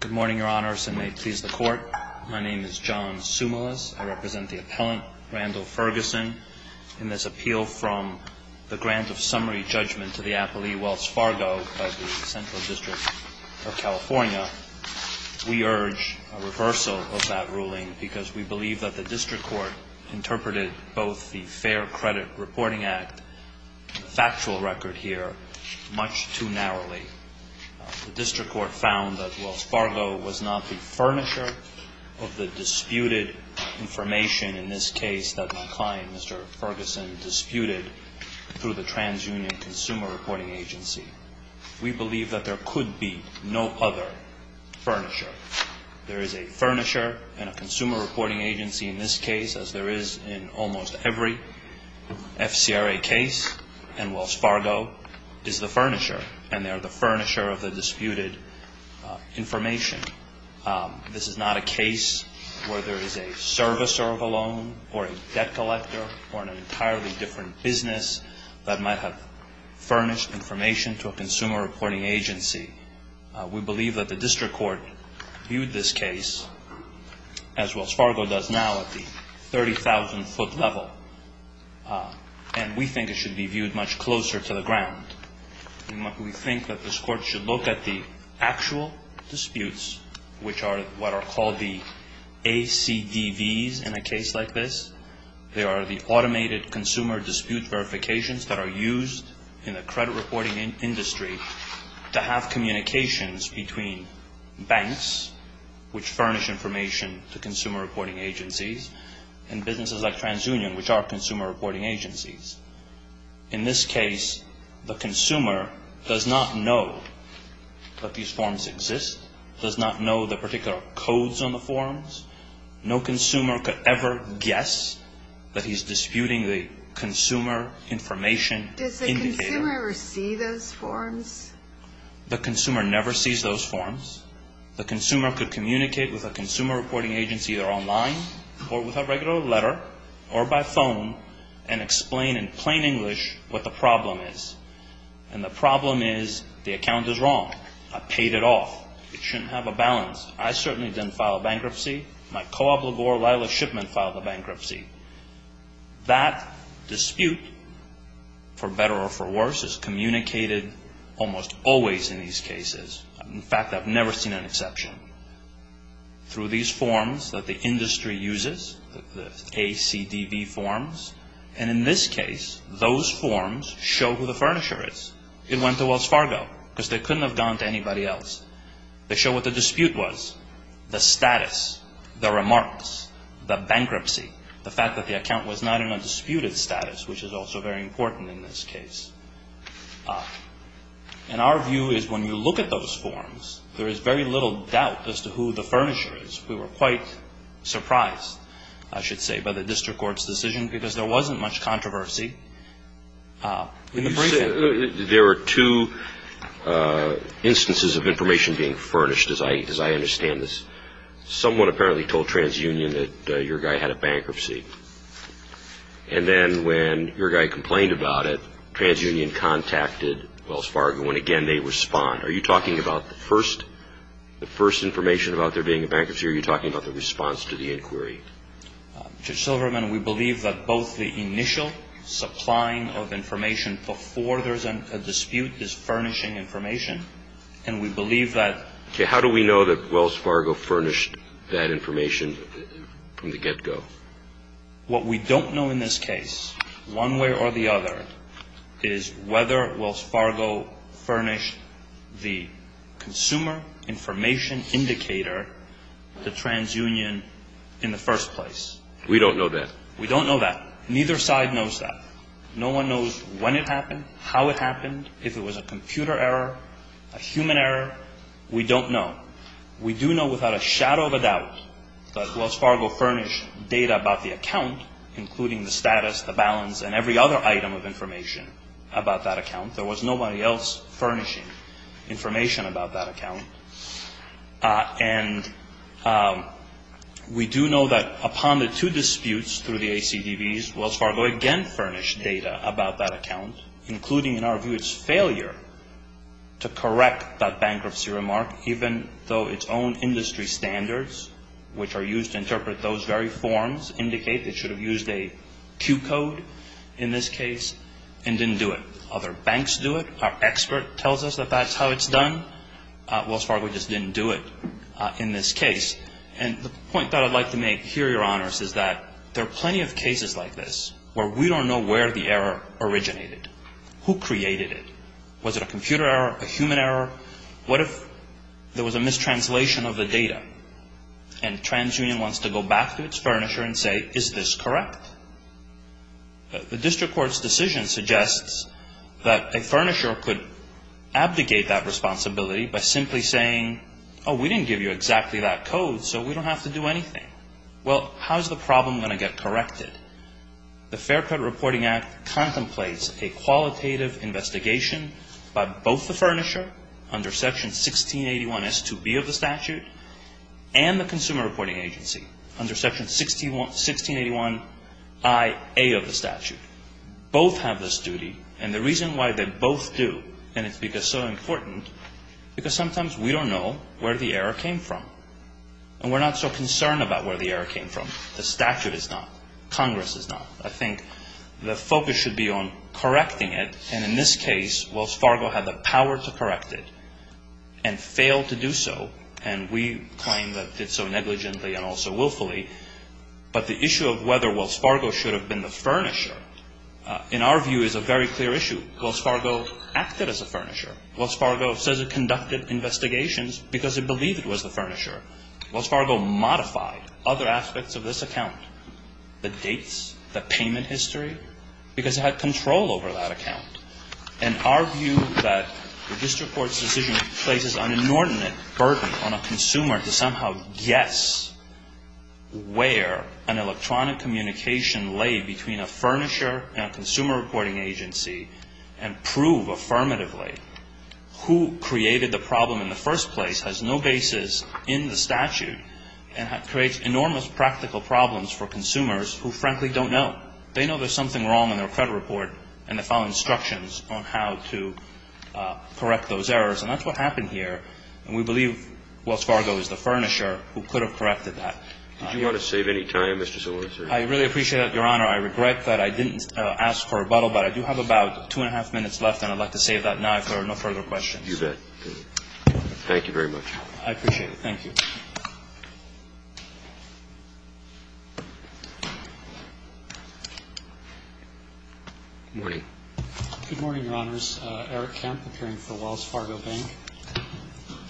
Good morning, Your Honors, and may it please the Court. My name is John Sumilas. I represent the appellant, Randall Ferguson. In this appeal from the grant of summary judgment to the appellee, Wells Fargo, of the Central District of California, we urge a reversal of that ruling because we believe that the District Court interpreted both the Fair Credit Reporting Act factual record here much too narrowly. The District Court found that Wells Fargo was not the furnisher of the disputed information in this case that my client, Mr. Ferguson, disputed through the TransUnion Consumer Reporting Agency. We believe that there could be no other furnisher. There is a furnisher and a consumer reporting agency in this case as there is in almost every FCRA case and Wells Fargo is the furnisher and they are the furnisher of the disputed information. This is not a case where there is a servicer of a loan or a debt collector or an entirely different business that might have furnished information to a consumer reporting agency. We believe that the District Court viewed this case as a 30,000-foot level and we think it should be viewed much closer to the ground. We think that this Court should look at the actual disputes, which are what are called the ACDVs in a case like this. They are the automated consumer dispute verifications that are used in the credit reporting industry to have communications between banks, which furnish information to businesses like TransUnion, which are consumer reporting agencies. In this case, the consumer does not know that these forms exist, does not know the particular codes on the forms. No consumer could ever guess that he is disputing the consumer information in the air. Does the consumer ever see those forms? The consumer never sees those forms. The consumer could communicate with a consumer reporting agency either online or with a regular letter or by phone and explain in plain English what the problem is. And the problem is the account is wrong. I paid it off. It shouldn't have a balance. I certainly didn't file a bankruptcy. My co-obligor, Lila Shipman, filed a bankruptcy. That dispute, for better or for worse, is through these forms that the industry uses, the ACDV forms. And in this case, those forms show who the furnisher is. It went to Wells Fargo because they couldn't have gone to anybody else. They show what the dispute was, the status, the remarks, the bankruptcy, the fact that the account was not in a disputed status, which is also very important in this case. And our view is when you look at those forms, there is very little doubt as to who the furnisher is. We were quite surprised, I should say, by the district court's decision because there wasn't much controversy in the briefing. There were two instances of information being furnished, as I understand this. Someone apparently told TransUnion that your guy had a bankruptcy. And then when your guy complained about it, TransUnion contacted Wells Fargo. And again, they respond. Are you talking about the first information about there being a bankruptcy, or are you talking about the response to the inquiry? Judge Silverman, we believe that both the initial supplying of information before there's a dispute is furnishing information. And we believe that Okay. How do we know that Wells Fargo furnished that information from the get-go? What we don't know in this case, one way or the other, is whether Wells Fargo furnished the consumer information indicator to TransUnion in the first place. We don't know that. We don't know that. Neither side knows that. No one knows when it happened, how it happened, if it was a computer error, a human error. We don't know. We do know without a shadow of a doubt that Wells Fargo furnished data about the account, including the status, the balance, and every other item of information about that account. There was nobody else furnishing information about that account. And we do know that upon the two disputes through the ACDBs, Wells Fargo again furnished data about that account, including, in our view, its failure to correct that bankruptcy remark, even though its own industry standards, which are used to interpret those very forms, indicate it should have used a cue code in this case and didn't do it. Other banks do it. Our expert tells us that that's how it's done. Wells Fargo just didn't do it in this case. And the point that I'd like to make here, Your Honors, is that there are plenty of cases like this where we don't know where the error originated. Who created it? Was it a computer error, a human error? What if there was a mistranslation of the data and TransUnion wants to go back to its furnisher and say, is this correct? The district court's decision suggests that a furnisher could abdicate that responsibility by simply saying, oh, we didn't give you exactly that code, so we don't have to do anything. Well, how's the problem going to get corrected? The Fair Credit Reporting Act contemplates a qualitative investigation by both the furnisher under Section 1681S2B of the statute and the Consumer Reporting Agency under Section 1681IA of the statute. Both have this duty, and the reason why they both do, and it's because so important, because sometimes we don't know where the error came from. And we're not so concerned about where the error came from. The statute is not. Congress is not. I think the focus should be on correcting it, and in this case, Wells Fargo had the power to correct it and failed to do so, and we claim that it's so negligently and also willfully. But the issue of whether Wells Fargo should have been the furnisher, in our view, is a very clear issue. Wells Fargo acted as a furnisher. Wells Fargo says it conducted investigations because it believed it was the furnisher. Wells Fargo modified other aspects of this case, had control over that account. And our view that the district court's decision places an inordinate burden on a consumer to somehow guess where an electronic communication lay between a furnisher and a Consumer Reporting Agency and prove affirmatively who created the problem in the first place has no basis in the statute and creates enormous practical problems for consumers who frankly don't know. They know there's something wrong with their credit report, and they follow instructions on how to correct those errors. And that's what happened here. And we believe Wells Fargo is the furnisher who could have corrected that. Did you want to save any time, Mr. Sorensen? I really appreciate that, Your Honor. I regret that I didn't ask for a rebuttal, but I do have about two and a half minutes left, and I'd like to save that now if there are no further questions. You bet. Thank you very much. I appreciate it. Thank you. Good morning. Good morning, Your Honors. Eric Kemp, appearing for Wells Fargo Bank.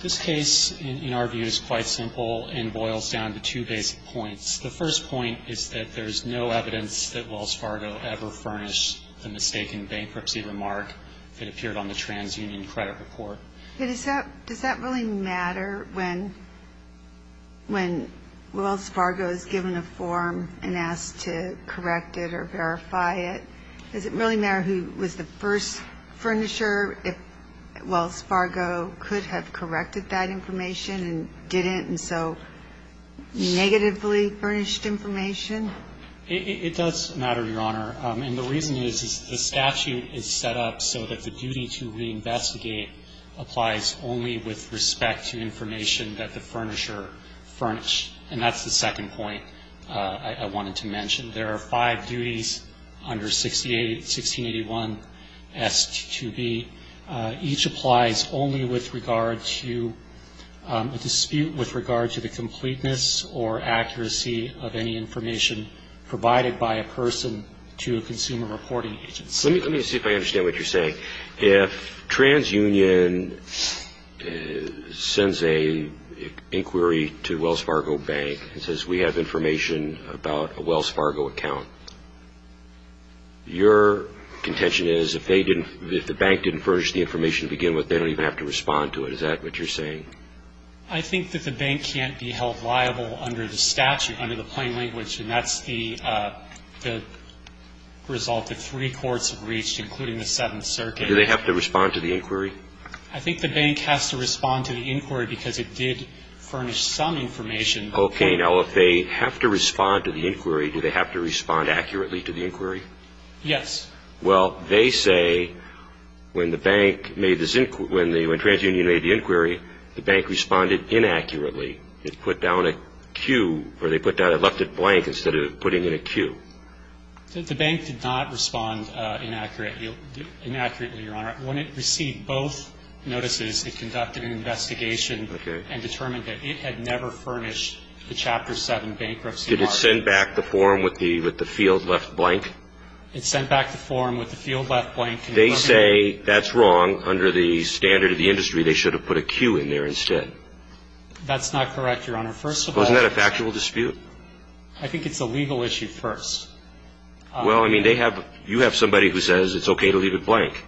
This case, in our view, is quite simple and boils down to two basic points. The first point is that there's no evidence that Wells Fargo ever furnished the mistaken bankruptcy remark that appeared on the TransUnion credit report. Does that really matter when Wells Fargo is given a form and asked to correct it or verify it? Does it really matter who was the first furnisher if Wells Fargo could have corrected that information and didn't, and so negatively furnished information? It does matter, Your Honor. And the reason is the statute is set up so that the duty to reinvestigate applies only with respect to information that the furnisher furnished. And that's the second point I wanted to mention. There are five duties under 1681S2B. Each applies only with regard to a dispute with regard to the completeness or accuracy of any information provided by a person to a consumer reporting agency. Let me see if I understand what you're saying. If TransUnion sends an inquiry to Wells Fargo Bank and says we have information about a Wells Fargo account, your contention is if the bank didn't furnish the information to begin with, they don't even have to respond to it. Is that what you're saying? I think that the bank can't be held liable under the statute, under the plain language, and that's the result that three courts have reached, including the Seventh Circuit. Do they have to respond to the inquiry? I think the bank has to respond to the inquiry because it did furnish some information. Okay. Now, if they have to respond to the inquiry, do they have to respond accurately to the inquiry? Yes. Well, they say when the bank made this, when TransUnion made the inquiry, the bank responded inaccurately. It put down a Q or they put down a left it blank instead of putting in a Q. The bank did not respond inaccurately, Your Honor. When it received both notices, it conducted an investigation and determined that it had never furnished the Chapter 7 bankruptcy. Did it send back the form with the field left blank? It sent back the form with the field left blank. They say that's wrong. Under the standard of the industry, they should have put a Q in there instead. That's not correct, Your Honor. First of all. Well, isn't that a factual dispute? I think it's a legal issue first. Well, I mean, they have, you have somebody who says it's okay to leave it blank.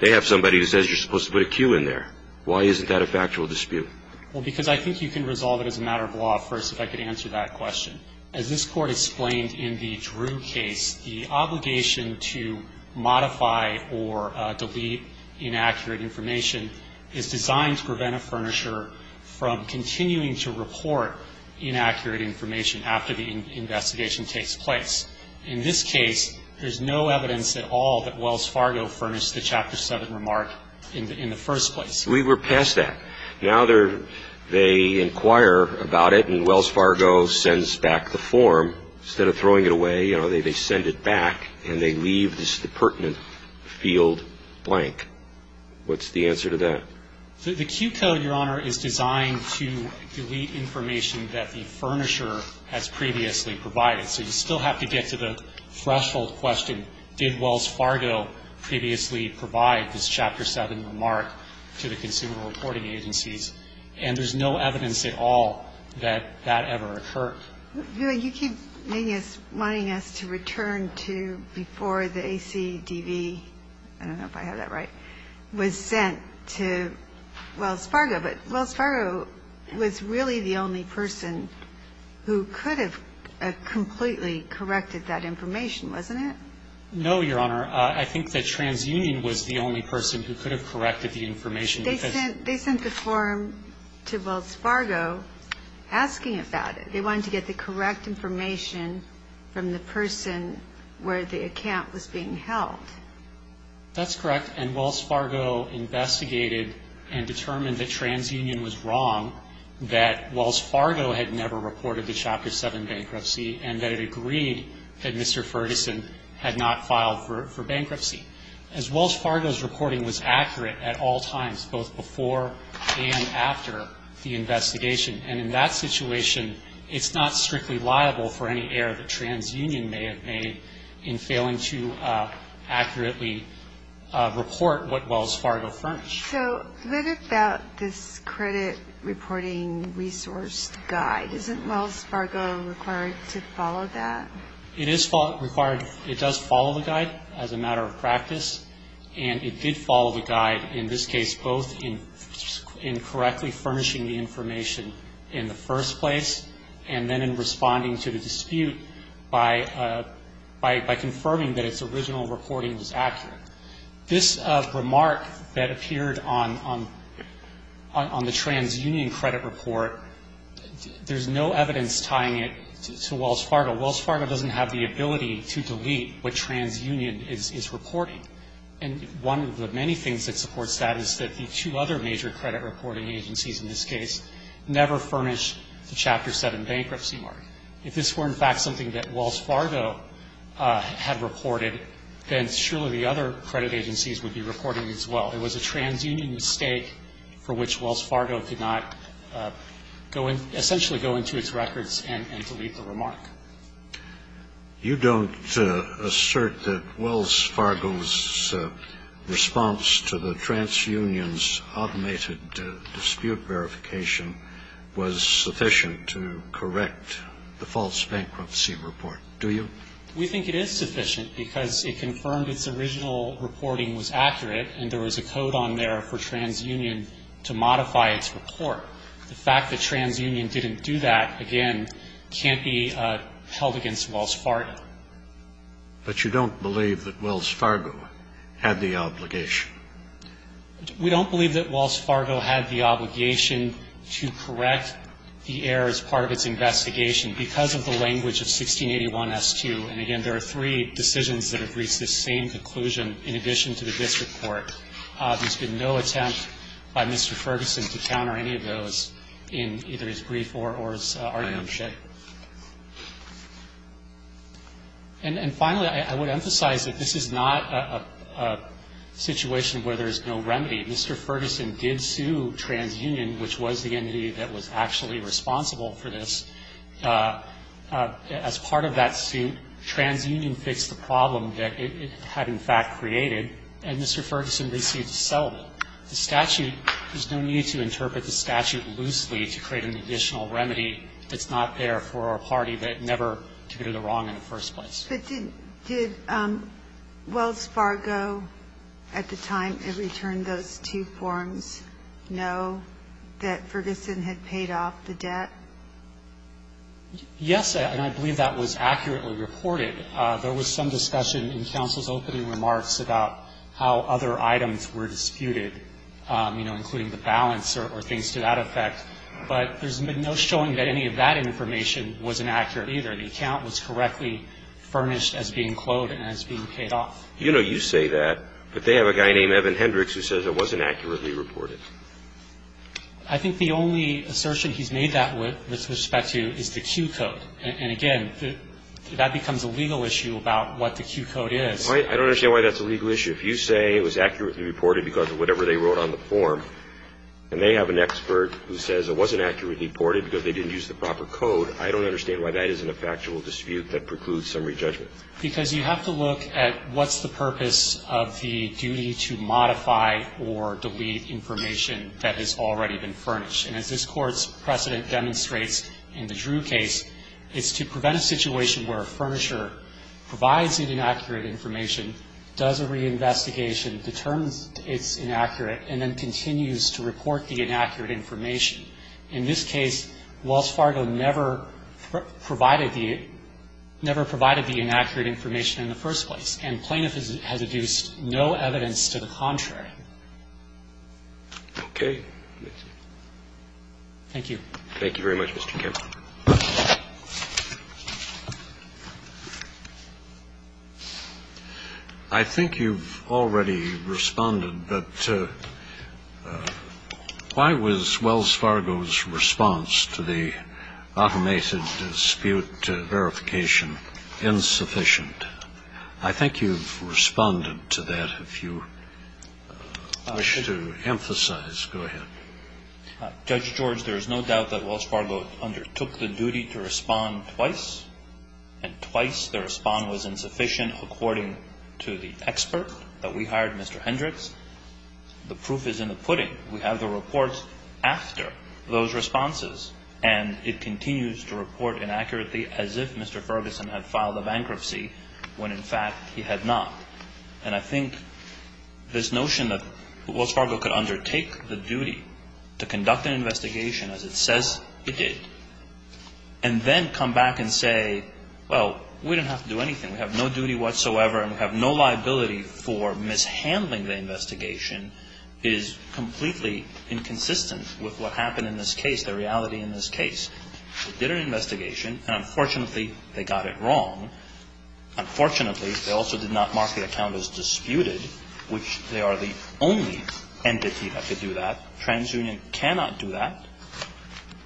They have somebody who says you're supposed to put a Q in there. Why isn't that a factual dispute? Well, because I think you can resolve it as a matter of law first if I could answer that question. As this Court explained in the Drew case, the obligation to modify or delete inaccurate information is designed to prevent a furnisher from continuing to report inaccurate information after the investigation takes place. In this case, there's no evidence at all that Wells Fargo furnished the Chapter 7 remark in the first place. We were past that. Now they're, they inquire about it and Wells Fargo sends back the form. Instead of throwing it away, you know, they send it back and they leave this pertinent field blank. What's the answer to that? The Q code, Your Honor, is designed to delete information that the furnisher has previously provided. So you still have to get to the threshold question, did Wells Fargo previously provide this Chapter 7 remark to the consumer reporting agencies? And there's no evidence at all that that ever occurred. You keep wanting us to return to before the ACDV, I don't know if I have that right, was sent to Wells Fargo, but Wells Fargo was really the only person who could have completely corrected that information, wasn't it? No, Your Honor. I think that TransUnion was the only person who could have corrected the information. They sent the form to Wells Fargo asking about it. They wanted to get the correct information from the person where the account was being held. That's correct. And Wells Fargo investigated and determined that TransUnion was wrong, that Wells Fargo had never reported the Chapter 7 bankruptcy, and that it agreed that Mr. Ferguson had not filed for bankruptcy. As Wells Fargo's reporting was accurate at all times, both before and after the investigation, and in that situation it's not strictly liable for any error that TransUnion may have made in failing to accurately report what Wells Fargo furnished. So what about this credit reporting resource guide? Isn't Wells Fargo required to follow that? It is required. It does follow the guide as a matter of practice, and it did follow the guide in this case, both in correctly furnishing the information in the first place and then in responding to the dispute by confirming that its original reporting was accurate. This remark that appeared on the TransUnion credit report, there's no evidence tying it to Wells Fargo. Wells Fargo doesn't have the ability to delete what TransUnion is reporting. And one of the many things that supports that is that the two other major credit reporting agencies in this case never furnished the Chapter 7 bankruptcy mark. If this were, in fact, something that Wells Fargo had reported, then surely the other credit agencies would be reporting as well. It was a TransUnion mistake for which Wells Fargo did not go in – essentially go into its records and delete the remark. You don't assert that Wells Fargo's response to the TransUnion's automated dispute verification was sufficient to correct the false bankruptcy report, do you? We think it is sufficient because it confirmed its original reporting was accurate and there was a code on there for TransUnion to modify its report. The fact that TransUnion didn't do that, again, can't be held against Wells Fargo. But you don't believe that Wells Fargo had the obligation? We don't believe that Wells Fargo had the obligation to correct the error as part of its investigation because of the language of 1681-S2. And, again, there are three decisions that have reached this same conclusion in addition to the district court. There's been no attempt by Mr. Ferguson to counter any of those in either his brief or his argumentation. And finally, I would emphasize that this is not a situation where there is no remedy. Mr. Ferguson did sue TransUnion, which was the entity that was actually responsible for this. As part of that suit, TransUnion fixed the problem that it had in fact created, and Mr. Ferguson received a settlement. The statute, there's no need to interpret the statute loosely to create an additional remedy that's not there for our party, but never to do the wrong in the first place. But did Wells Fargo at the time it returned those two forms know that Ferguson had paid off the debt? Yes, and I believe that was accurately reported. There was some discussion in counsel's opening remarks about how other items were disputed, you know, including the balance or things to that effect. But there's been no showing that any of that information was inaccurate either. The account was correctly furnished as being quoted and as being paid off. You know you say that, but they have a guy named Evan Hendricks who says it wasn't accurately reported. I think the only assertion he's made that with respect to is the cue code. And again, that becomes a legal issue about what the cue code is. I don't understand why that's a legal issue. If you say it was accurately reported because of whatever they wrote on the form, and they have an expert who says it wasn't accurately reported because they didn't use the proper code, I don't understand why that isn't a factual dispute that precludes summary judgment. Because you have to look at what's the purpose of the duty to modify or delete information that has already been furnished. And as this Court's precedent demonstrates in the Drew case, it's to prevent a situation where a furnisher provides an inaccurate information, does a reinvestigation, determines it's inaccurate, and then continues to report the inaccurate information. In this case, Wells Fargo never provided the – never provided the inaccurate information in the first place. And plaintiff has adduced no evidence to the contrary. Okay. Thank you. Thank you very much, Mr. Kemp. I think you've already responded, but why was Wells Fargo's response to the automated dispute verification insufficient? I think you've responded to that. If you wish to emphasize, go ahead. Judge George, there is no doubt that Wells Fargo undertook the duty to respond twice, and twice the response was insufficient according to the expert that we hired, Mr. Hendricks. The proof is in the pudding. We have the reports after those responses, and it continues to report inaccurately as if Mr. Ferguson had filed a bankruptcy when, in fact, he had not. And I think this notion that Wells Fargo could undertake the duty to conduct an investigation as it says it did, and then come back and say, well, we didn't have to do anything. We have no duty whatsoever, and we have no liability for mishandling the investigation is completely inconsistent with what happened in this case, the reality in this case. They did an investigation, and unfortunately, they got it wrong. Unfortunately, they also did not mark the account as disputed, which they are the only entity that could do that. TransUnion cannot do that.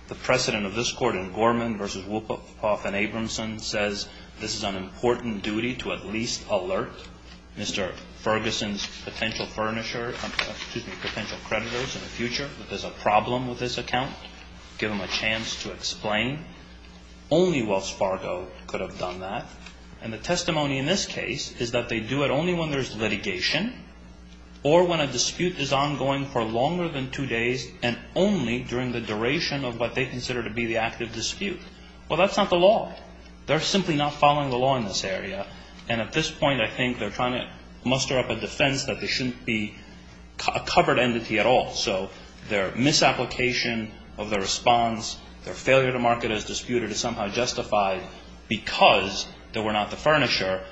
The precedent of this Court in Gorman v. Wolpoff and Abramson says this is an important duty to at least alert Mr. Ferguson's potential furnisher, excuse me, potential owner, give him a chance to explain. Only Wells Fargo could have done that. And the testimony in this case is that they do it only when there's litigation or when a dispute is ongoing for longer than two days and only during the duration of what they consider to be the active dispute. Well, that's not the law. They're simply not following the law in this area, and at this point, I think they're trying to muster up a defense that they shouldn't be a covered entity at all. So their misapplication of their response, their failure to mark it as disputed is somehow justified because they were not the furnisher,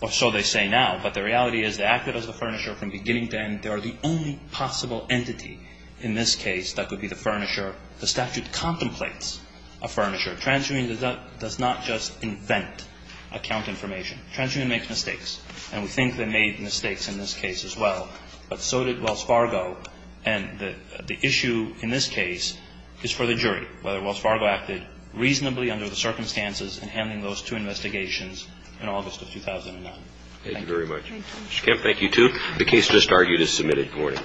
or so they say now. But the reality is they acted as the furnisher from beginning to end. They are the only possible entity in this case that could be the furnisher. The statute contemplates a furnisher. TransUnion does not just invent account information. TransUnion makes mistakes, and we think they made mistakes in this case as well. But so did Wells Fargo. And the issue in this case is for the jury, whether Wells Fargo acted reasonably under the circumstances in handling those two investigations in August of 2009. Thank you very much. Thank you. Mr. Kemp, thank you, too. The case just argued is submitted. Good morning.